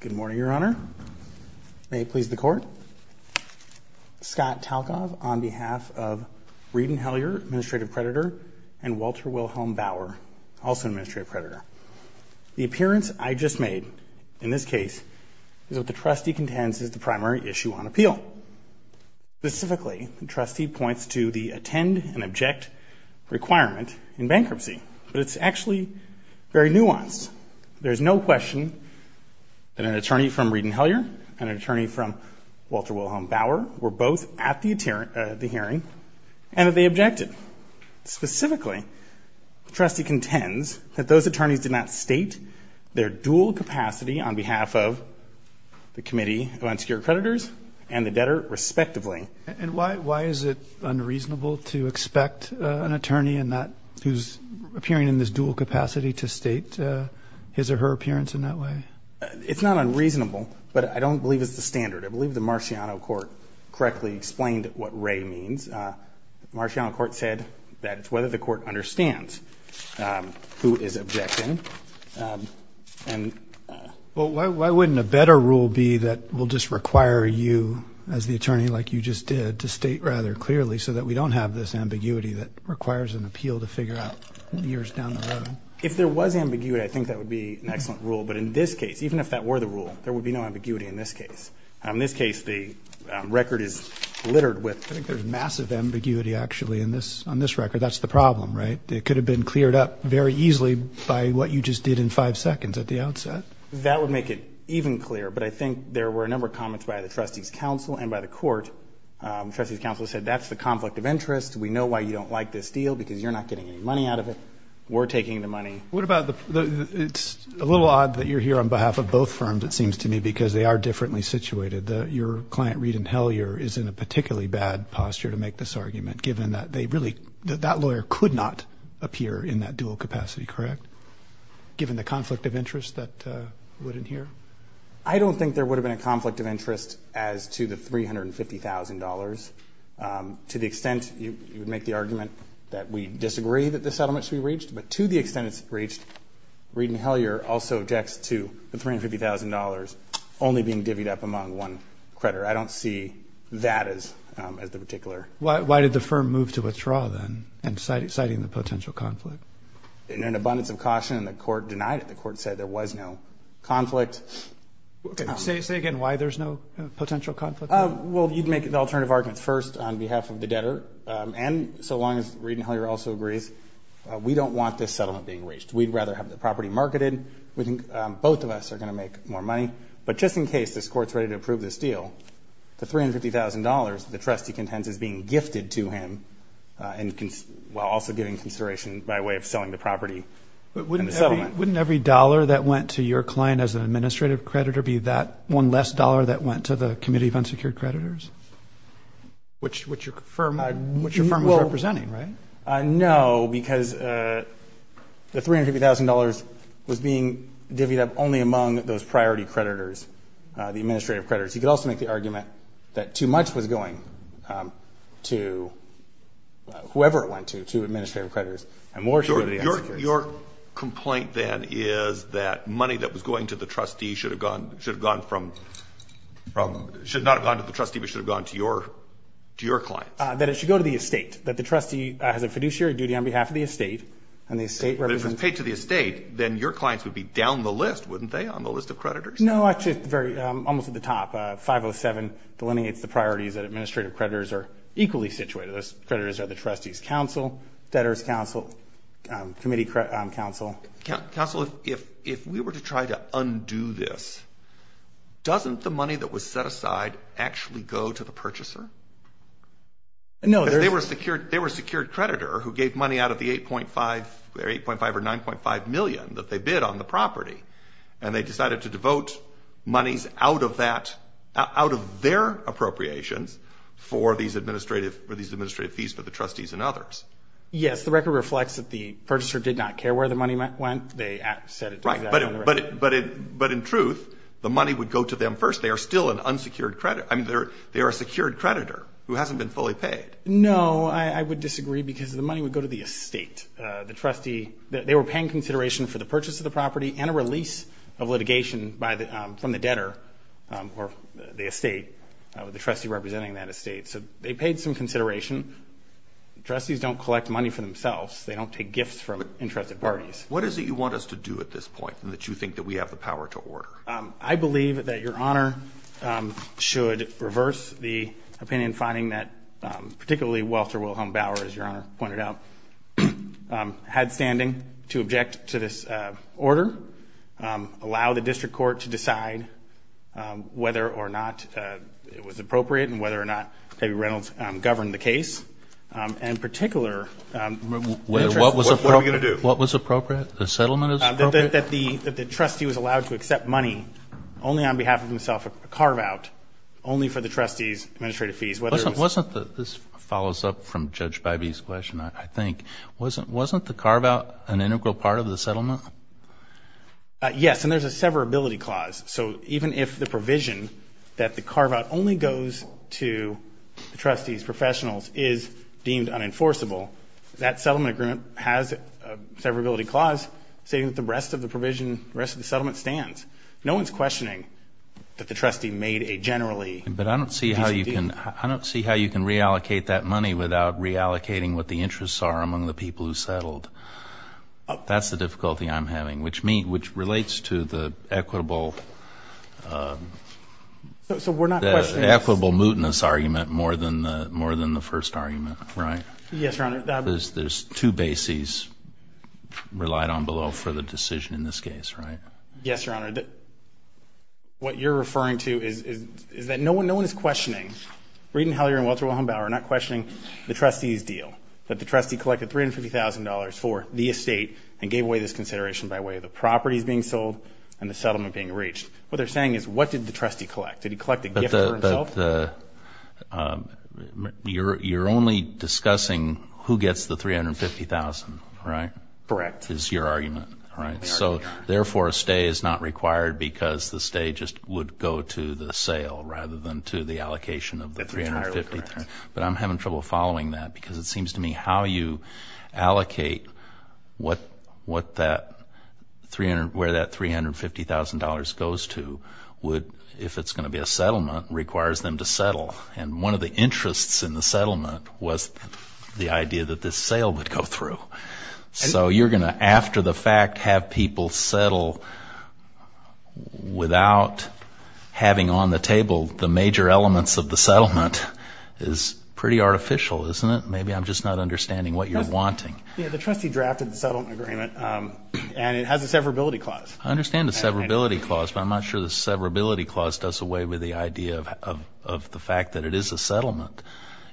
Good morning, Your Honor. May it please the Court. Scott Talkov on behalf of Reed and Hellyer, Administrative Predator, and Walter Wilhelm Bauer, also Administrative Predator. The appearance I just made in this case is what the trustee contends is the primary issue on appeal. Specifically, the trustee points to the no question that an attorney from Reed and Hellyer and an attorney from Walter Wilhelm Bauer were both at the hearing and that they objected. Specifically, the trustee contends that those attorneys did not state their dual capacity on behalf of the Committee of Unsecured Creditors and the debtor respectively. And why is it unreasonable to expect an attorney and that who's appearing in this dual capacity to state his or her appearance in that way? It's not unreasonable, but I don't believe it's the standard. I believe the Marciano court correctly explained what Ray means. The Marciano court said that it's whether the court understands who is objecting. Well, why wouldn't a better rule be that will just require you as the attorney like you just did to state rather clearly so that we don't have this ambiguity that requires an appeal to figure out years down the road? If there was ambiguity, I think that would be an excellent rule. But in this case, even if that were the rule, there would be no ambiguity in this case. In this case, the record is littered with. I think there's massive ambiguity actually in this on this record. That's the problem, right? It could have been cleared up very easily by what you just did in five seconds at the outset. That would make it even clearer, but I think there were a number of comments by the trustee's counsel and by the court. Trustee's counsel said that's the conflict of interest. We know why you don't like this deal because you're not getting any money out of it. We're taking the money. What about the, it's a little odd that you're here on behalf of both firms, it seems to me, because they are differently situated. Your client, Reed and Hellyer, is in a particularly bad posture to make this argument given that they really, that lawyer could not appear in that dual capacity, correct? Given the conflict of interest that would adhere? I don't think there would have been a conflict of interest as to the $350,000. To the extent you would make the argument that we disagree that the settlement should be reached, but to the extent it's reached, Reed and Hellyer also decks to the $350,000 only being divvied up among one creditor. I don't see that as the particular. Why did the firm move to withdraw then and citing the potential conflict? In an abundance of caution, the court denied it. The court said there was no conflict. Say again why there's no potential conflict? Well, you'd make the alternative arguments first on behalf of the debtor and so long as Reed and Hellyer also agrees, we don't want this settlement being reached. We'd rather have the property marketed. We think both of us are going to make more money, but just in case this court's ready to approve this deal, the $350,000 the trustee contends is being gifted to him while also giving consideration by way of selling the property and the settlement. Wouldn't every dollar that went to your client as an administrative creditor be that one less dollar that went to the Committee of Unsecured Creditors? Which your firm was representing, right? No, because the $350,000 was being divvied up only among those priority creditors, the administrative creditors. You could also make the argument that too much was going to whoever it went to, to administrative creditors. Your complaint then is that money that was going to the trustee should have gone from, should not have gone to the trustee, but should have gone to your clients? That it should go to the trustee has a fiduciary duty on behalf of the estate. If it was paid to the estate, then your clients would be down the list, wouldn't they, on the list of creditors? No, almost at the top. 507 delineates the priorities that administrative creditors are equally situated. Those creditors are the trustee's counsel, debtor's counsel, committee counsel. Counsel, if we were to try to undo this, doesn't the money that was set aside actually go to the purchaser? No. They were a secured creditor who gave money out of the 8.5 or 9.5 million that they bid on the property, and they decided to devote monies out of that, out of their appropriations for these administrative, for these administrative fees for the trustees and others. Yes, the record reflects that the purchaser did not care where the money went. They said it. Right, but in truth, the money would go to them first. They are still an unsecured creditor. I mean, they're a secured creditor who hasn't been fully paid. No, I would disagree because the money would go to the estate. The trustee, they were paying consideration for the purchase of the property and a release of litigation from the debtor or the estate, the trustee representing that estate. So they paid some consideration. Trustees don't collect money for themselves. They don't take gifts from interested parties. What is it you want us to do at this point and that you think that we have the should reverse the opinion finding that particularly Walter Wilhelm Bauer, as Your Honor pointed out, had standing to object to this order, allow the district court to decide whether or not it was appropriate and whether or not David Reynolds governed the case, and in particular... What was appropriate? The settlement is appropriate? That the trustee was allowed to accept money only on behalf of himself, a carve-out only for the trustees' administrative fees. Wasn't this follows up from Judge Bybee's question, I think. Wasn't the carve-out an integral part of the settlement? Yes, and there's a severability clause. So even if the provision that the carve-out only goes to the trustees, professionals, is deemed unenforceable, that settlement agreement has a severability clause saying that the rest of the provision, the rest of the trustee made a generally... But I don't see how you can reallocate that money without reallocating what the interests are among the people who settled. That's the difficulty I'm having, which relates to the equitable, equitable mootness argument more than the first argument, right? Yes, Your Honor. There's two bases relied on below for the referring to, is that no one is questioning... Reid and Heller and Walter Wilhelm Bauer are not questioning the trustee's deal, that the trustee collected $350,000 for the estate and gave away this consideration by way of the properties being sold and the settlement being reached. What they're saying is, what did the trustee collect? Did he collect a gift for himself? You're only discussing who gets the $350,000, right? Correct. Is your argument, right? So therefore, a stay is not required because the stay just would go to the sale rather than to the allocation of the $350,000. But I'm having trouble following that because it seems to me how you allocate what that, where that $350,000 goes to would, if it's going to be a settlement, requires them to settle. And one of the interests in the settlement was the idea that this settlement is pretty artificial, isn't it? Maybe I'm just not understanding what you're wanting. Yeah, the trustee drafted the settlement agreement and it has a severability clause. I understand the severability clause, but I'm not sure the severability clause does away with the idea of the fact that it is a settlement.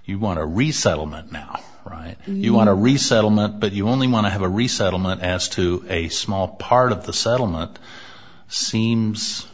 You want a resettlement now, right? You want a resettlement, but you want a resettlement now. So this small part of the settlement seems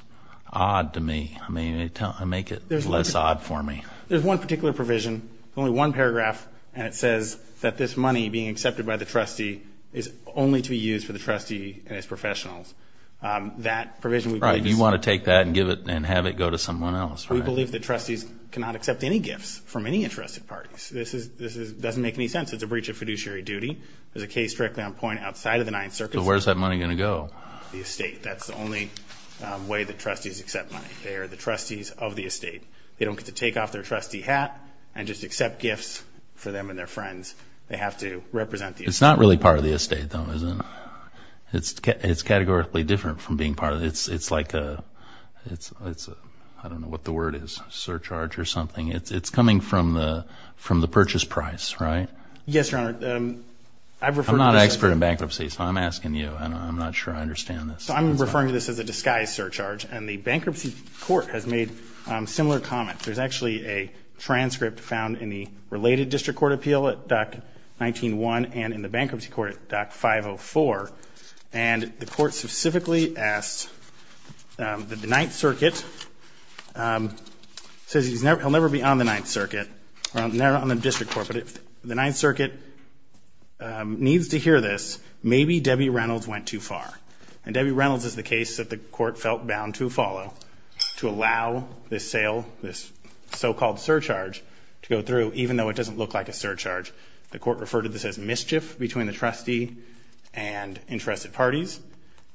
odd to me. I mean, make it less odd for me. There's one particular provision, only one paragraph, and it says that this money being accepted by the trustee is only to be used for the trustee and his professionals. That provision... Right, you want to take that and give it and have it go to someone else, right? We believe that trustees cannot accept any gifts from any interested parties. This doesn't make any sense. It's a breach of fiduciary duty. There's a case directly on point outside of the Ninth Circuit. So where's that money gonna go? The estate. That's the only way that trustees accept money. They are the trustees of the estate. They don't get to take off their trustee hat and just accept gifts for them and their friends. They have to represent the estate. It's not really part of the estate though, is it? It's categorically different from being part of it. It's like a... I don't know what the word is, surcharge or something. It's coming from the purchase price, right? Yes, Your Honor. I'm not an expert in bankruptcy, so I'm asking you and I'm not sure I understand this. I'm referring to this as a disguise surcharge and the Bankruptcy Court has made similar comments. There's actually a transcript found in the related District Court Appeal at Dock 19-1 and in the Bankruptcy Court at Dock 5-0-4, and the court specifically asked that the Ninth Circuit says he'll never be on the District Court, but if the Ninth Circuit needs to hear this, maybe Debbie Reynolds went too far. And Debbie Reynolds is the case that the court felt bound to follow to allow this sale, this so-called surcharge, to go through even though it doesn't look like a surcharge. The court referred to this as mischief between the trustee and interested parties.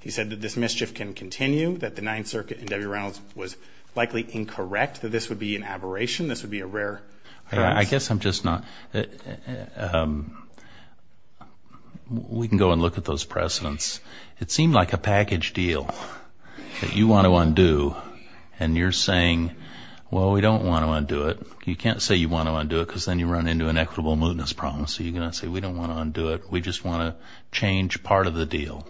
He said that this mischief can continue, that the Ninth Circuit and Debbie Reynolds was likely incorrect, that this would be an aberration, this would be a rare occurrence. I guess I'm just not... we can go and look at those precedents. It seemed like a package deal that you want to undo and you're saying, well, we don't want to undo it. You can't say you want to undo it because then you run into an equitable mootness problem, so you're gonna say we don't want to undo it, we just want to change part of the deal.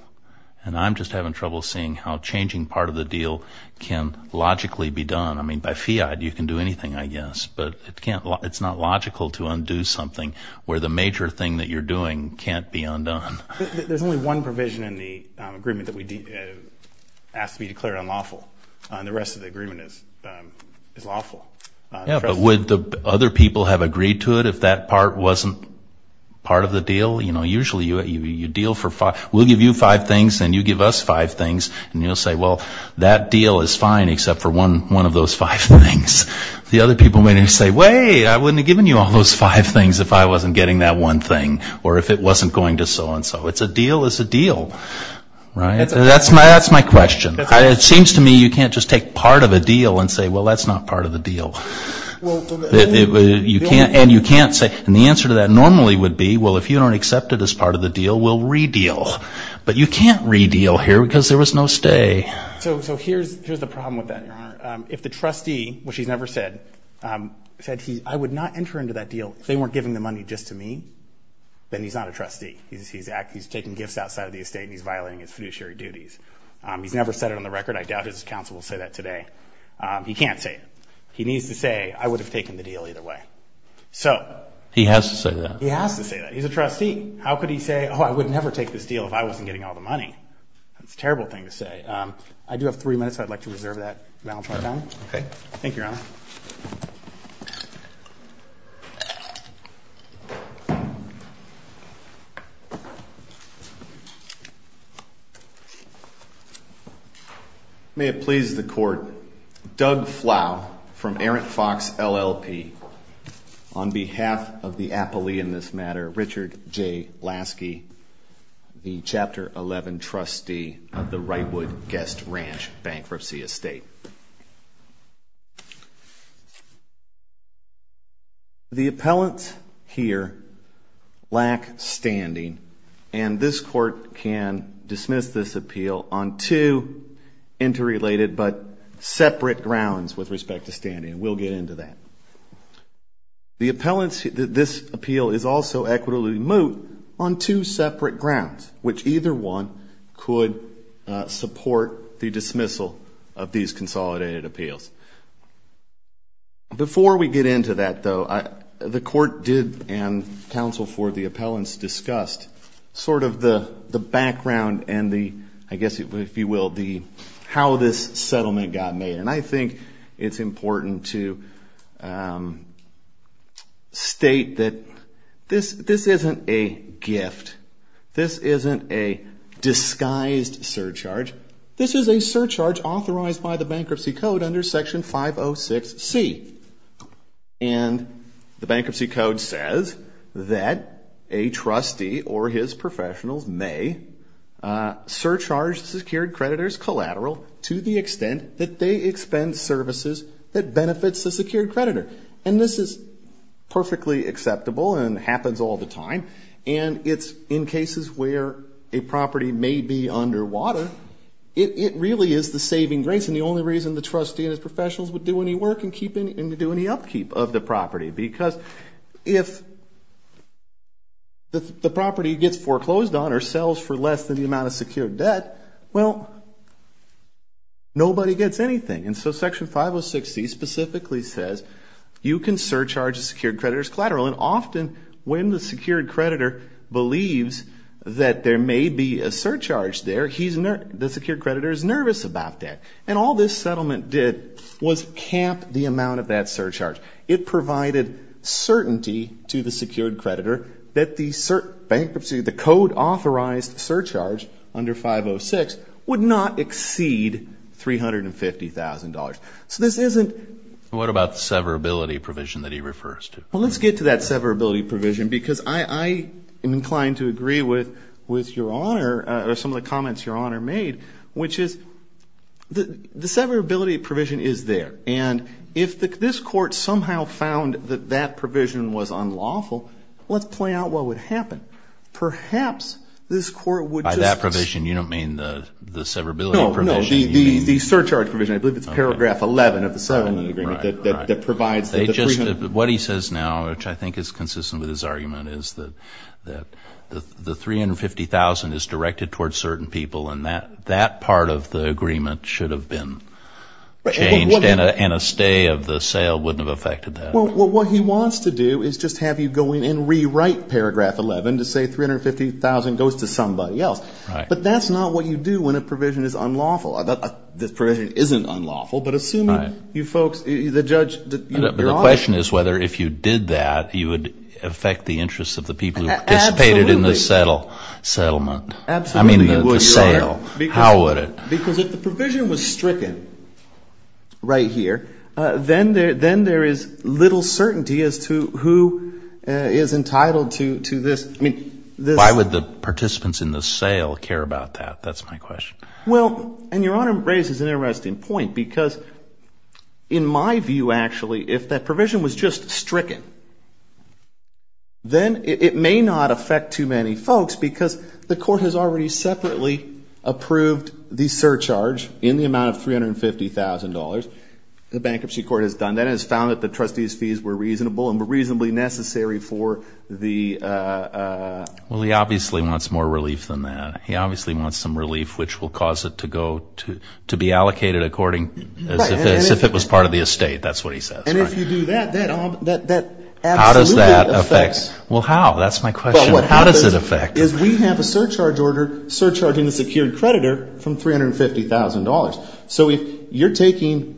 And I'm just having trouble seeing how changing part of the deal can logically be done. I mean, by fiat you can do anything, I guess, but it's not logical to undo something where the major thing that you're doing can't be undone. There's only one provision in the agreement that we ask to be declared unlawful, and the rest of the agreement is lawful. Yeah, but would the other people have agreed to it if that part wasn't part of the deal? You know, usually you deal for five... we'll give you five things and you give us five things and you'll say, well, that deal is fine except for one of those five things. The other people may say, wait, I wouldn't have given you all those five things if I wasn't getting that one thing or if it wasn't going to so-and-so. It's a deal is a deal, right? That's my question. It seems to me you can't just take part of a deal and say, well, that's not part of the deal. And you can't say, and the answer to that normally would be, well, if you don't accept it as part of the deal, then you can't say... So here's the problem with that, Your Honor. If the trustee, which he's never said, said, I would not enter into that deal if they weren't giving the money just to me, then he's not a trustee. He's taking gifts outside of the estate and he's violating his fiduciary duties. He's never said it on the record. I doubt his counsel will say that today. He can't say it. He needs to say, I would have taken the deal either way. So... He has to say that. He has to say that. He's a trustee. How could he say, oh, I would never take this deal if I wasn't getting all the money? It's a terrible thing to say. I do have three minutes. I'd like to reserve that. Okay. Thank you, Your Honor. May it please the court, Doug Flau from Errant Fox LLP, on behalf of the Chapter 11 trustee of the Wrightwood Guest Ranch Bankruptcy Estate. The appellants here lack standing and this court can dismiss this appeal on two interrelated but separate grounds with respect to standing. We'll get into that. The appellants, this appeal is also equitably moot on two separate grounds, which either one could support the dismissal of these consolidated appeals. Before we get into that though, the court did and counsel for the appellants discussed sort of the background and the, I guess if you will, the how this settlement got made. And I think it's important to state that this isn't a gift. This isn't a disguised surcharge. This is a surcharge authorized by the Bankruptcy Code under Section 506C. And the Bankruptcy Code says that a trustee or his professionals may surcharge secured creditors collateral to the extent that they expend services that benefits the secured creditor. And this is perfectly acceptable and happens all the time. And it's in cases where a property may be underwater, it really is the saving grace. And the only reason the trustee and his professionals would do any work and do any upkeep of the property. Because if the property gets foreclosed on or sells for less than the amount of secured debt, well, nobody gets anything. And so Section 506C specifically says you can surcharge a secured creditor's collateral. And often when the secured creditor believes that there may be a surcharge there, the secured creditor is nervous about that. And all this settlement did was cap the amount of that surcharge. It provided certainty to the secured creditor that the bankruptcy, the code authorized surcharge under 506 would not exceed $350,000. So this isn't... What about severability provision that he refers to? Well, let's get to that severability provision because I am inclined to agree with your Honor or some of the comments your Honor made, which is the severability provision is there. And if this court somehow found that that provision was unlawful, let's play out what would happen. Perhaps this court would just... By that provision, you don't mean the severability provision? No, no, the surcharge provision. I believe it's paragraph 11 of the settlement agreement that provides... What he says now, which I think is consistent with his argument, is that the $350,000 is directed towards certain people and that part of the agreement should have been changed and a stay of the sale wouldn't have affected that. Well, what he wants to do is just have you go in and rewrite paragraph 11 to say $350,000 goes to somebody else. But that's not what you do when a provision is unlawful. This provision isn't unlawful, but assuming you folks, the judge... The question is whether if you did that, you would affect the interests of the people who participated in the settlement. Absolutely. I mean, the sale. How would it? Because if the provision was entitled to this... Why would the participants in the sale care about that? That's my question. Well, and Your Honor raises an interesting point because in my view, actually, if that provision was just stricken, then it may not affect too many folks because the court has already separately approved the surcharge in the amount of $350,000. The bankruptcy court has done that and has found that the $350,000 is necessary for the... Well, he obviously wants more relief than that. He obviously wants some relief which will cause it to be allocated as if it was part of the estate. That's what he says. And if you do that, that absolutely affects... How does that affect? Well, how? That's my question. How does it affect? Well, what happens is we have a surcharge order surcharging the secured creditor from $350,000. So if you're taking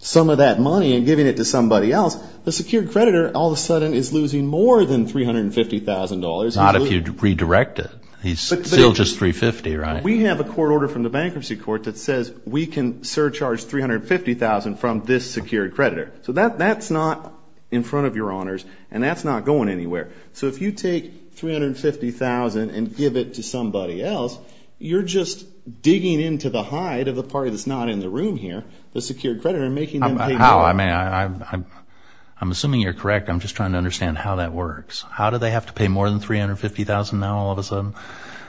some of that money and giving it to somebody else, the secured creditor all of a sudden is losing more than $350,000. Not if you redirect it. He's still just $350,000, right? We have a court order from the bankruptcy court that says we can surcharge $350,000 from this secured creditor. So that's not in front of Your Honors and that's not going anywhere. So if you take $350,000 and give it to somebody else, you're just digging into the hide of the party that's not in the room here, the secured creditor. I'm assuming you're correct. I'm just trying to understand how that works. How do they have to pay more than $350,000 now all of a sudden?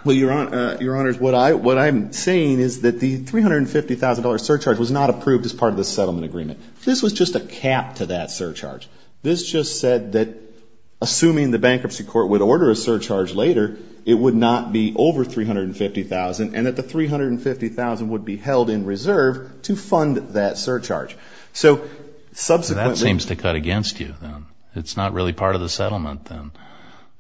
Well, Your Honors, what I'm saying is that the $350,000 surcharge was not approved as part of the settlement agreement. This was just a cap to that surcharge. This just said that assuming the bankruptcy court would order a surcharge later, it would not be over $350,000 and that the $350,000 would be held in reserve to subsequently. That seems to cut against you then. It's not really part of the settlement then.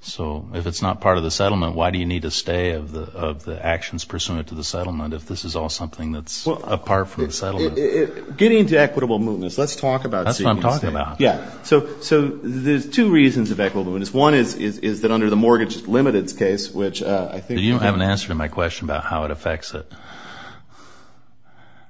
So if it's not part of the settlement, why do you need to stay of the actions pursuant to the settlement if this is all something that's apart from the settlement? Getting to equitable movements, let's talk about it. That's what I'm talking about. Yeah. So there's two reasons of equitable movements. One is that under the mortgage limited case, which I think... You haven't answered my question about how it affects it.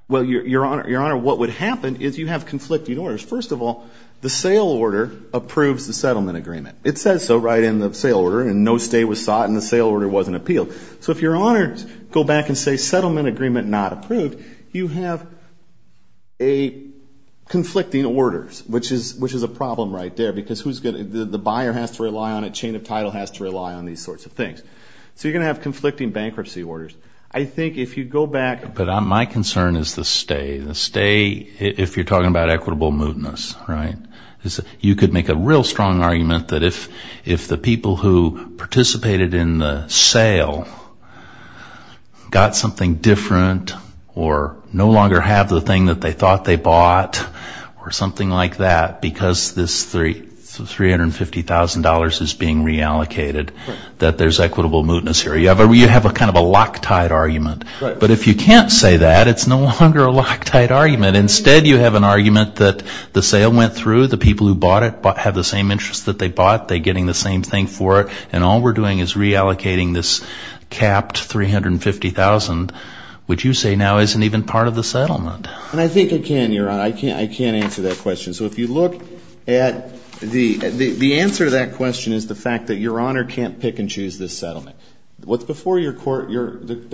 Well, Your Honor, what would happen is you have conflicting orders. First of all, the sale order approves the settlement agreement. It says so right in the sale order and no stay was sought and the sale order wasn't appealed. So if Your Honors go back and say settlement agreement not approved, you have conflicting orders, which is a problem right there because the buyer has to rely on it. Chain of title has to rely on these sorts of things. So you're going to have conflicting bankruptcy orders. I think if you go back... But my concern is the stay. The stay, if you're talking about equitable movements, right? You could make a real strong argument that if the people who participated in the sale got something different or no longer have the thing that they thought they bought or something like that because this $350,000 is being reallocated, that there's equitable movements here. You have kind of a loctite argument. But if you can't say that, it's no longer a loctite argument. Instead, you have an argument that the sale went through, the people who bought it have the same interest that they bought, they're getting the same thing for it, and all we're doing is reallocating this capped $350,000, which you say now isn't even part of the settlement. And I think it can, Your Honor. I can't answer that question. So if you look at the answer to that question is the fact that Your Honor can't pick and choose this settlement. What's before the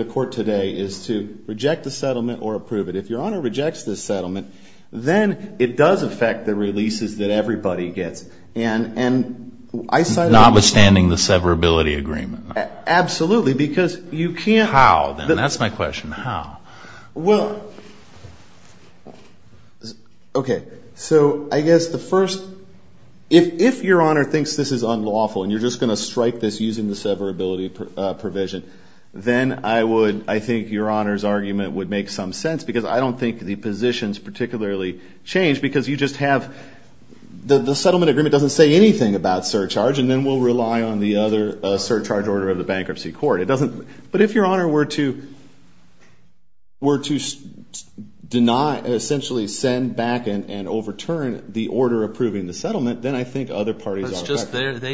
court today is to reject the settlement or approve it. If Your Honor rejects this settlement, then it does affect the releases that everybody gets. And I cited... Notwithstanding the severability agreement. Absolutely, because you can't... How, then? That's my question. How? Well... Okay. So I guess the settlement agreement doesn't say anything about surcharge, and then we'll rely on the other surcharge order of the bankruptcy court. It doesn't... But if Your Honor were to deny, essentially send back and overturn the order approving the settlement, then I think other parties are affected. That's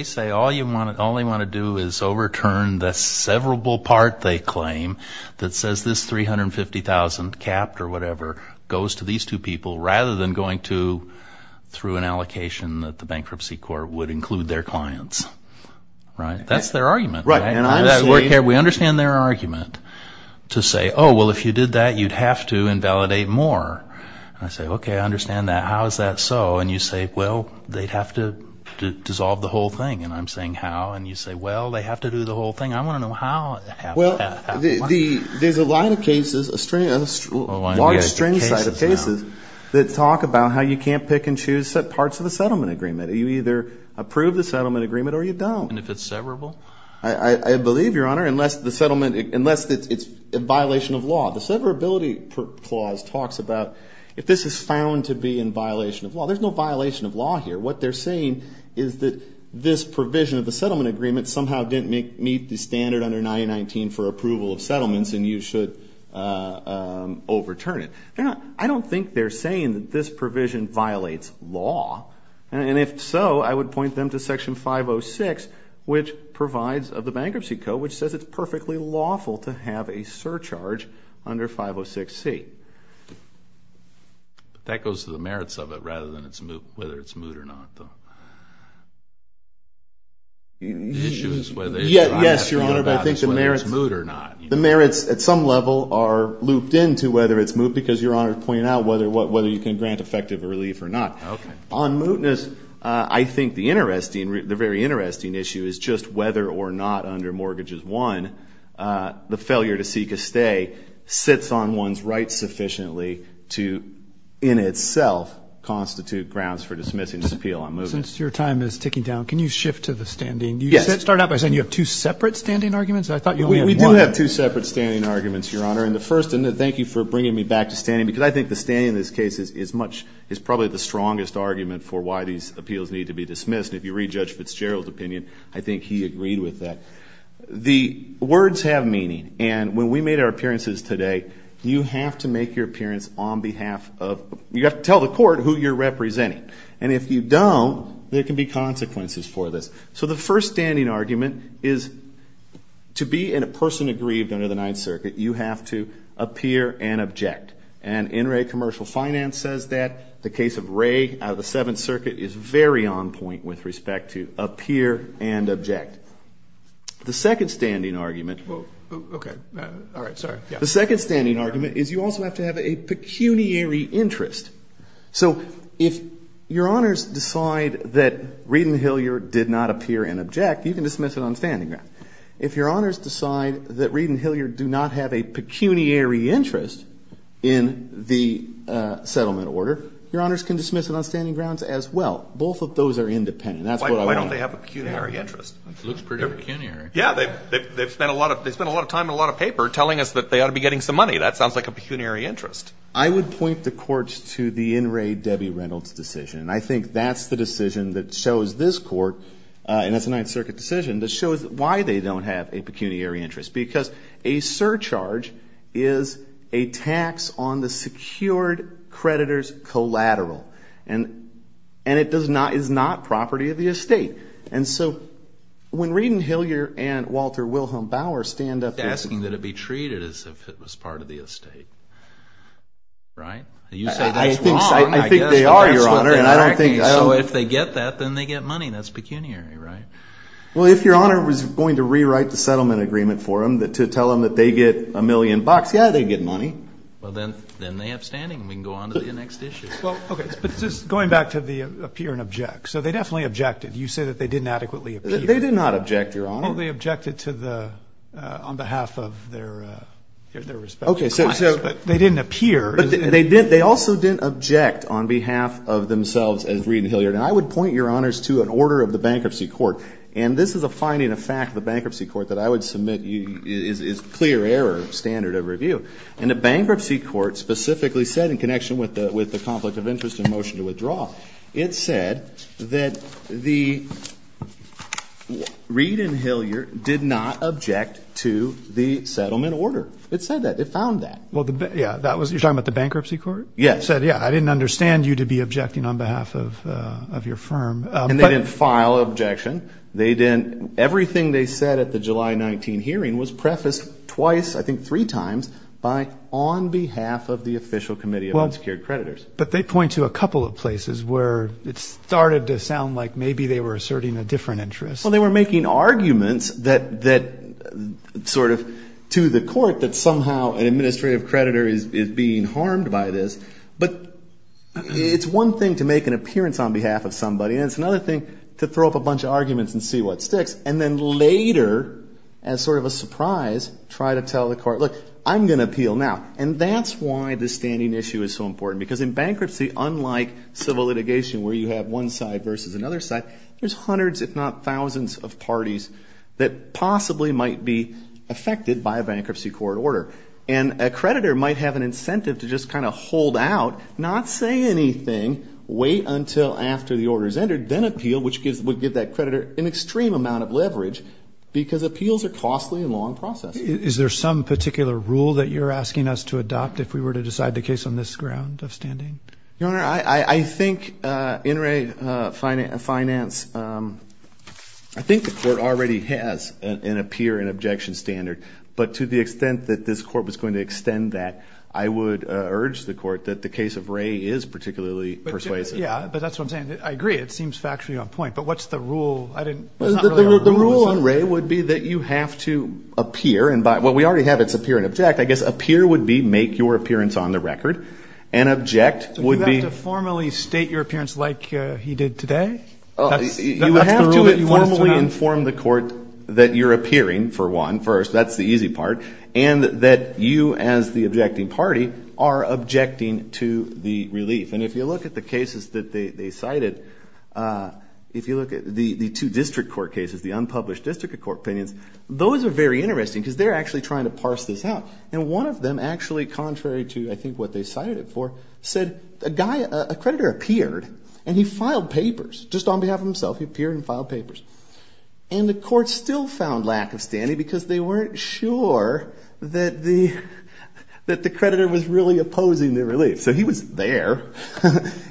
just all they want to do is overturn the severable part they claim that says this $350,000, capped or whatever, goes to these two people rather than going to through an allocation that the bankruptcy court would include their clients. Right? That's their argument. Right. And I'm saying... We understand their argument to say, oh, well, if you did that, you'd have to invalidate more. And I say, okay, I understand that. How is that so? And you say, well, they'd have to dissolve the whole thing. And I'm saying, how? And you say, well, they have to do the whole thing. I want to know how. Well, there's a line of cases, a large string of cases that talk about how you can't pick and choose parts of a settlement agreement. You either approve the settlement agreement or you don't. And if it's severable? I believe, Your Honor, unless the settlement... Unless it's a violation of law. The severability clause talks about if this is found to be in violation of law. There's no violation of law here. What they're saying is that this provision of the settlement agreement somehow didn't meet the standard under 919 for approval of settlements and you should overturn it. I don't think they're saying that this provision violates law. And if so, I would point them to Section 506, which provides of the Bankruptcy Code, which says it's perfectly lawful to have a surcharge under 506C. But that goes to the merits of it rather than whether it's moot or not, though. The issue is whether it's right or wrong about whether it's moot or not. Yes, Your Honor, but I think the merits at some level are looped into whether it's moot because Your Honor pointed out whether you can grant effective relief or not. On mootness, I think the very interesting issue is just whether or not under Mortgages I, the failure to seek a stay sits on one's rights sufficiently to, in itself, constitute grounds for dismissing this appeal on mootness. Since your time is ticking down, can you shift to the standing? Yes. You started out by saying you have two separate standing arguments. I thought you only had one. We do have two separate standing arguments, Your Honor. And the first, and thank you for bringing me back to standing because I think the standing in this case is probably the strongest argument for why these appeals need to be The words have meaning. And when we made our appearances today, you have to make your appearance on behalf of, you have to tell the court who you're representing. And if you don't, there can be consequences for this. So the first standing argument is to be in a person aggrieved under the Ninth Circuit, you have to appear and object. And NRA Commercial Finance says that. The case of Ray out of the Seventh Circuit is very on point with respect to The second standing argument is you also have to have a pecuniary interest. So if Your Honors decide that Reed and Hilliard did not appear and object, you can dismiss it on standing grounds. If Your Honors decide that Reed and Hilliard do not have a pecuniary interest in the settlement order, Your Honors can dismiss it on standing grounds as well. Both of those are independent. Why don't they have a pecuniary interest? It looks pretty pecuniary. Yeah, they've spent a lot of time and a lot of paper telling us that they ought to be getting some money. That sounds like a pecuniary interest. I would point the courts to the NRA Debbie Reynolds decision. And I think that's the decision that shows this court, and it's a Ninth Circuit decision, that shows why they don't have a pecuniary interest. Because a surcharge is a tax on the secured creditor's collateral. And it is not property of the estate. And so when Reed and Hilliard and Walter Wilhelm Bauer stand up... Asking that it be treated as if it was part of the estate. Right? You say that's wrong. I think they are, Your Honor. So if they get that, then they get money. That's pecuniary, right? Well, if Your Honor was going to rewrite the settlement agreement for them to tell them that they get a million bucks, yeah, they'd get money. Well, then they have standing. We can go on to the next issue. Well, okay. But just going back to the appear and object. So they definitely objected. You say that they didn't adequately appear. They did not object, Your Honor. They only objected on behalf of their respective clients. Okay. So... But they didn't appear. But they also didn't object on behalf of themselves as Reed and Hilliard. And I would point, Your Honors, to an order of the Bankruptcy Court. And this is a finding of fact of the Bankruptcy Court that I would submit is clear error standard of review. And the Bankruptcy Court specifically said in connection with the conflict of interest and motion to withdraw, it said that the Reed and Hilliard did not object to the settlement order. It said that. It found that. Well, yeah. You're talking about the Bankruptcy Court? Yeah. It said, yeah, I didn't understand you to be objecting on behalf of your firm. And they didn't file objection. They didn't. Everything they said at the July 19 hearing was prefaced twice, I think three times, by on behalf of the official committee of unsecured creditors. But they point to a couple of places where it started to sound like maybe they were asserting a different interest. Well, they were making arguments that sort of to the court that somehow an administrative creditor is being harmed by this. But it's one thing to make an appearance on behalf of somebody. And it's another thing to throw up a bunch of arguments and see what sticks. And then later, as sort of a surprise, try to tell the court, look, I'm going to appeal now. And that's why this standing issue is so important. Because in bankruptcy, unlike civil litigation where you have one side versus another side, there's hundreds if not thousands of parties that possibly might be affected by a bankruptcy court order. And a creditor might have an incentive to just kind of hold out, not say anything, wait until after the order is entered, then appeal, which would give that creditor an extreme amount of leverage because appeals are costly and long process. Is there some particular rule that you're asking us to adopt if we were to decide the case on this ground of standing? Your Honor, I think in Ray finance, I think the court already has an appear and objection standard. But to the extent that this court was going to extend that, I would urge the court that the case of Ray is particularly persuasive. Yeah, but that's what I'm saying. I agree. It seems factually on point. But what's the rule? The rule on Ray would be that you have to appear, and what we already have is appear and object. I guess appear would be make your appearance on the record. And object would be... So you have to formally state your appearance like he did today? That's the rule that you want us to have? You have to formally inform the court that you're appearing, for one. First, that's the easy part. And that you as the objecting party are objecting to the relief. And if you look at the cases that they cited, if you look at the two district court cases, the unpublished district court opinions, those are very interesting because they're actually trying to parse this out. And one of them actually, contrary to I think what they cited it for, said a creditor appeared and he filed papers just on behalf of himself. He appeared and filed papers. And the court still found lack of standing because they weren't sure that the creditor was really opposing the relief. So he was there.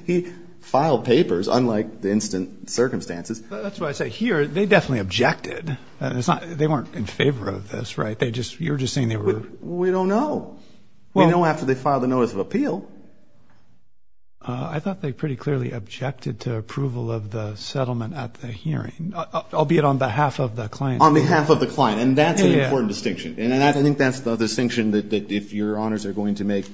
He filed papers, unlike the instant circumstances. That's what I say. Here, they definitely objected. They weren't in favor of this, right? You're just saying they were... We don't know. We know after they filed the notice of appeal. I thought they pretty clearly objected to approval of the settlement at the hearing, albeit on behalf of the client. On behalf of the client. And that's an important distinction. And I think that's the distinction that if your honors are going to make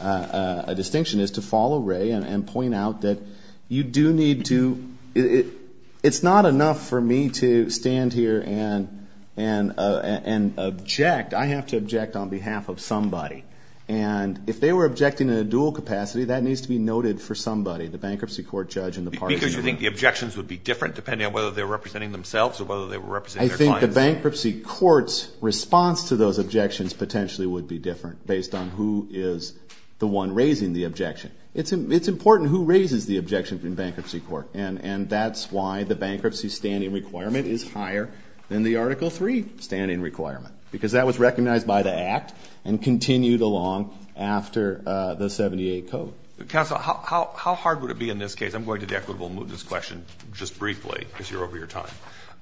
a distinction is to follow Ray and point out that you do need to... It's not enough for me to stand here and object. I have to object on behalf of somebody. And if they were objecting in a dual capacity, that needs to be noted for somebody, the bankruptcy court judge and the parties involved. Because you think the objections would be different depending on whether they're representing themselves or whether they were representing their clients. The bankruptcy court's response to those objections potentially would be different based on who is the one raising the objection. It's important who raises the objection in bankruptcy court. And that's why the bankruptcy standing requirement is higher than the Article 3 standing requirement. Because that was recognized by the act and continued along after the 78 code. Counsel, how hard would it be in this case? I'm going to the equitable and mootness question just briefly because you're over your time.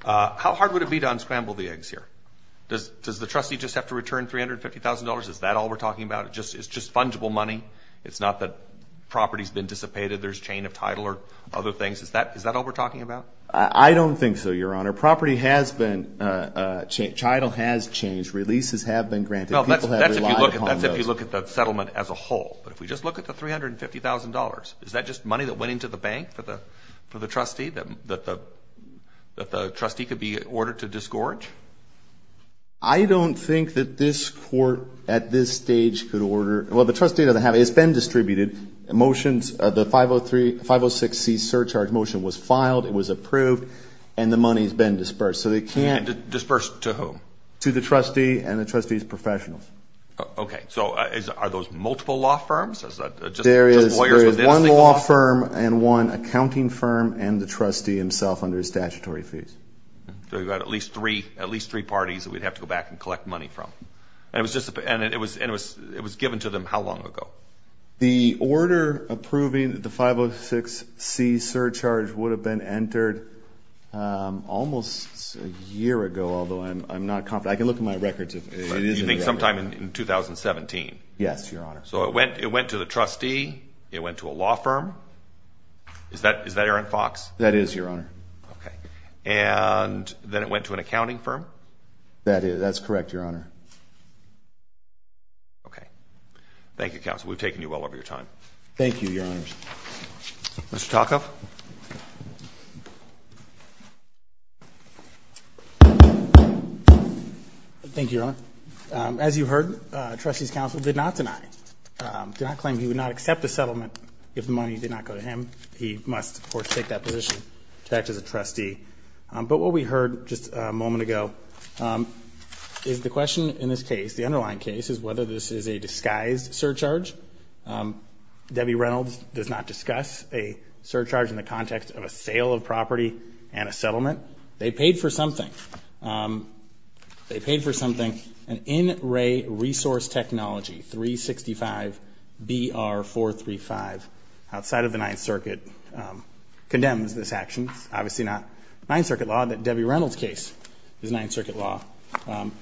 How hard would it be to unscramble the eggs here? Does the trustee just have to return $350,000? Is that all we're talking about? It's just fungible money? It's not that property's been dissipated, there's a chain of title or other things? Is that all we're talking about? I don't think so, Your Honor. Property has been changed. Title has changed. Releases have been granted. People have relied upon those. That's if you look at the settlement as a whole. But if we just look at the $350,000, is that just money that went into the bank for the trustee? That the trustee could be ordered to disgorge? I don't think that this court at this stage could order. Well, the trustee doesn't have it. It's been distributed. The 506C surcharge motion was filed. It was approved. And the money's been dispersed. Dispersed to whom? To the trustee and the trustee's professionals. Okay. So are those multiple law firms? There is one law firm and one accounting firm and the trustee. The trustee himself under statutory fees. So you've got at least three parties that we'd have to go back and collect money from. And it was given to them how long ago? The order approving the 506C surcharge would have been entered almost a year ago, although I'm not confident. I can look at my records. You think sometime in 2017? Yes, Your Honor. So it went to the trustee. It went to a law firm. Is that Aaron Fox? That is, Your Honor. Okay. And then it went to an accounting firm? That is. That's correct, Your Honor. Okay. Thank you, Counsel. We've taken you well over your time. Thank you, Your Honors. Mr. Tocco? Thank you, Your Honor. As you heard, the trustee's counsel did not deny, did not claim he would not accept the settlement if the money did not go to him. He must, of course, take that position to act as a trustee. But what we heard just a moment ago is the question in this case, the underlying case, is whether this is a disguised surcharge. Debbie Reynolds does not discuss a surcharge in the context of a sale of property and a settlement. They paid for something. They paid for something, an in-ray resource technology, 365BR435, outside of the Ninth Circuit, condemns this action. It's obviously not Ninth Circuit law. Debbie Reynolds' case is Ninth Circuit law.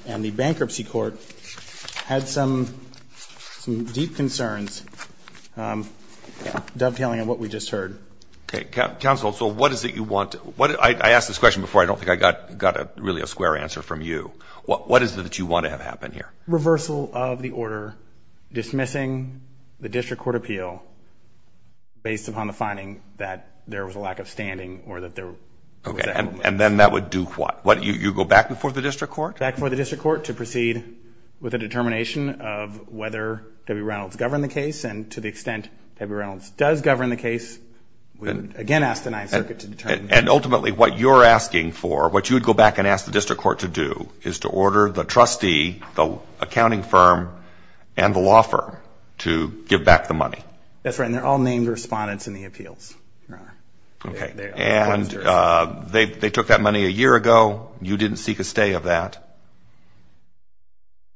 And the bankruptcy court had some deep concerns dovetailing on what we just heard. Okay. Counsel, so what is it you want to – I asked this question before. I don't think I got really a square answer from you. What is it that you want to have happen here? Reversal of the order dismissing the district court appeal based upon the finding that there was a lack of standing or that there was an imbalance. Okay. And then that would do what? You go back before the district court? Back before the district court to proceed with a determination of whether Debbie Reynolds governed the case. And to the extent Debbie Reynolds does govern the case, we would, again, ask the Ninth Circuit to determine. And ultimately, what you're asking for, what you would go back and ask the accounting firm and the law firm to give back the money. That's right. And they're all named respondents in the appeals. Okay. And they took that money a year ago. You didn't seek a stay of that.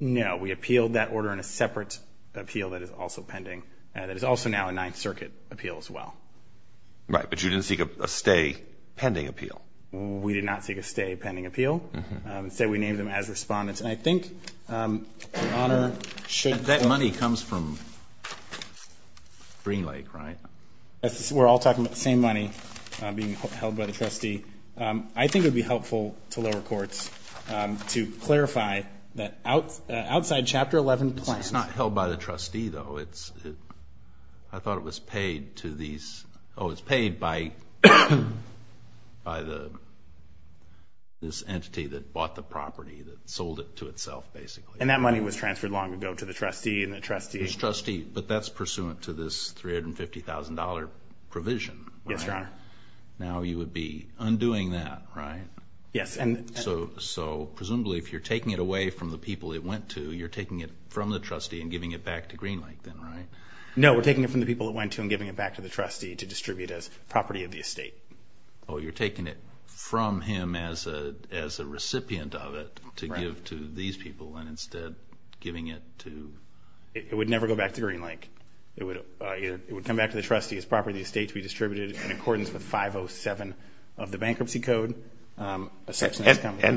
No. We appealed that order in a separate appeal that is also pending that is also now a Ninth Circuit appeal as well. Right. But you didn't seek a stay pending appeal. We did not seek a stay pending appeal. Instead, we named them as respondents. And I think your Honor should. That money comes from Green Lake, right? We're all talking about the same money being held by the trustee. I think it would be helpful to lower courts to clarify that outside Chapter 11 plans. It's not held by the trustee, though. I thought it was paid to these. Oh, it's paid by this entity that bought the property, that sold it to itself, basically. And that money was transferred long ago to the trustee and the trustee. But that's pursuant to this $350,000 provision. Yes, Your Honor. Now you would be undoing that, right? Yes. So presumably if you're taking it away from the people it went to, you're taking it from the trustee and giving it back to Green Lake then, right? No. No, we're taking it from the people it went to and giving it back to the trustee to distribute as property of the estate. Oh, you're taking it from him as a recipient of it to give to these people and instead giving it to... It would never go back to Green Lake. It would come back to the trustee as property of the estate to be distributed in accordance with 507 of the Bankruptcy Code. And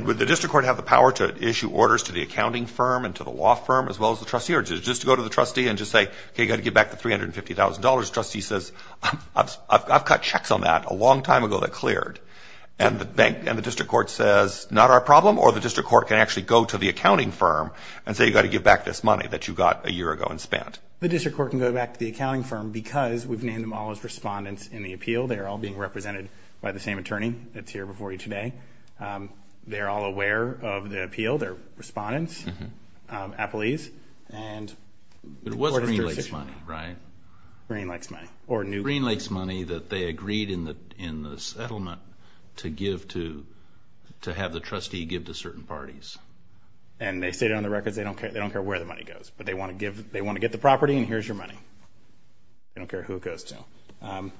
would the district court have the power to issue orders to the accounting firm and to the law firm as well as the trustee, or does it just go to the trustee and just say, okay, you've got to give back the $350,000. The trustee says, I've cut checks on that a long time ago that cleared. And the district court says, not our problem, or the district court can actually go to the accounting firm and say, you've got to give back this money that you got a year ago and spent. The district court can go back to the accounting firm because we've named them all as respondents in the appeal. They're all being represented by the same attorney that's here before you today. They're all aware of the appeal. They're respondents, appellees. But it was Green Lake's money, right? Green Lake's money. Green Lake's money that they agreed in the settlement to give to, to have the trustee give to certain parties. And they stated on the records they don't care where the money goes, but they want to get the property and here's your money. They don't care who it goes to.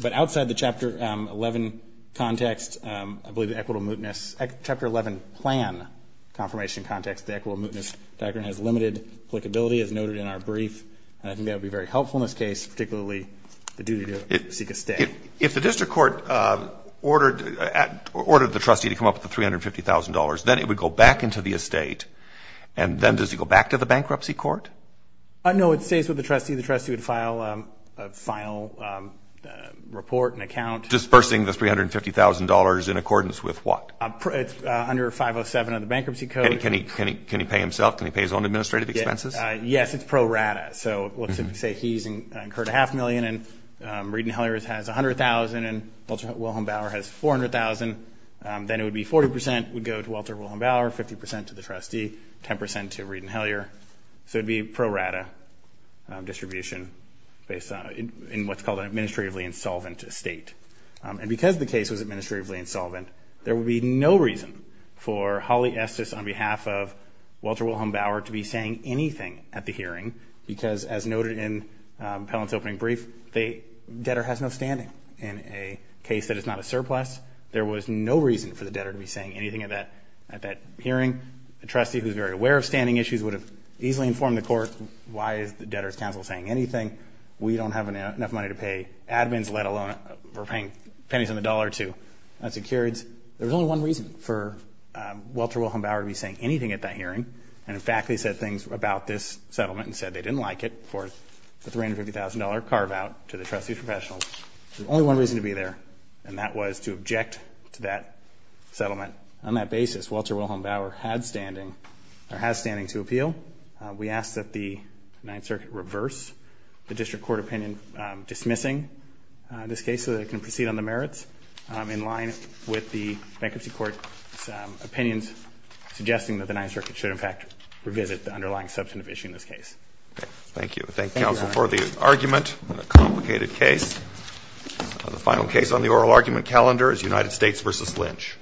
But outside the Chapter 11 context, I believe the Equitable Mootness, Chapter 11 plan confirmation context, the Equitable Mootness diagram has limited applicability as noted in our brief. And I think that would be very helpful in this case, particularly the duty to seek a stay. If the district court ordered the trustee to come up with the $350,000, then it would go back into the estate, and then does it go back to the bankruptcy court? No, it stays with the trustee. The trustee would file a final report and account. Dispersing the $350,000 in accordance with what? Under 507 of the bankruptcy code. Can he pay himself? Can he pay his own administrative expenses? Yes, it's pro rata. So let's say he's incurred a half million and Reed and Hellyer has $100,000 and Walter Wilhelm Bauer has $400,000. Then it would be 40% would go to Walter Wilhelm Bauer, 50% to the trustee, 10% to Reed and Hellyer. So it would be pro rata distribution based on, in what's called an administratively insolvent estate. And because the case was administratively insolvent, there would be no reason for Holly Estes on behalf of Walter Wilhelm Bauer to be saying anything at the hearing because, as noted in Pellant's opening brief, the debtor has no standing in a case that is not a surplus. There was no reason for the debtor to be saying anything at that hearing. The trustee, who's very aware of standing issues, would have easily informed the court, why is the debtor's counsel saying anything? We don't have enough money to pay admins, let alone we're paying pennies on the dollar to insecurities. There was only one reason for Walter Wilhelm Bauer to be saying anything at that hearing. And, in fact, they said things about this settlement and said they didn't like it for the $350,000 carve-out to the trustee's professionals. There was only one reason to be there, and that was to object to that settlement. On that basis, Walter Wilhelm Bauer has standing to appeal. We ask that the Ninth Circuit reverse the District Court opinion dismissing this case so that it can proceed on the merits in line with the Bankruptcy Court's opinions suggesting that the Ninth Circuit should, in fact, revisit the underlying substantive issue in this case. Thank you. Thank you, counsel, for the argument on a complicated case. The final case on the oral argument calendar is United States v. Lynch.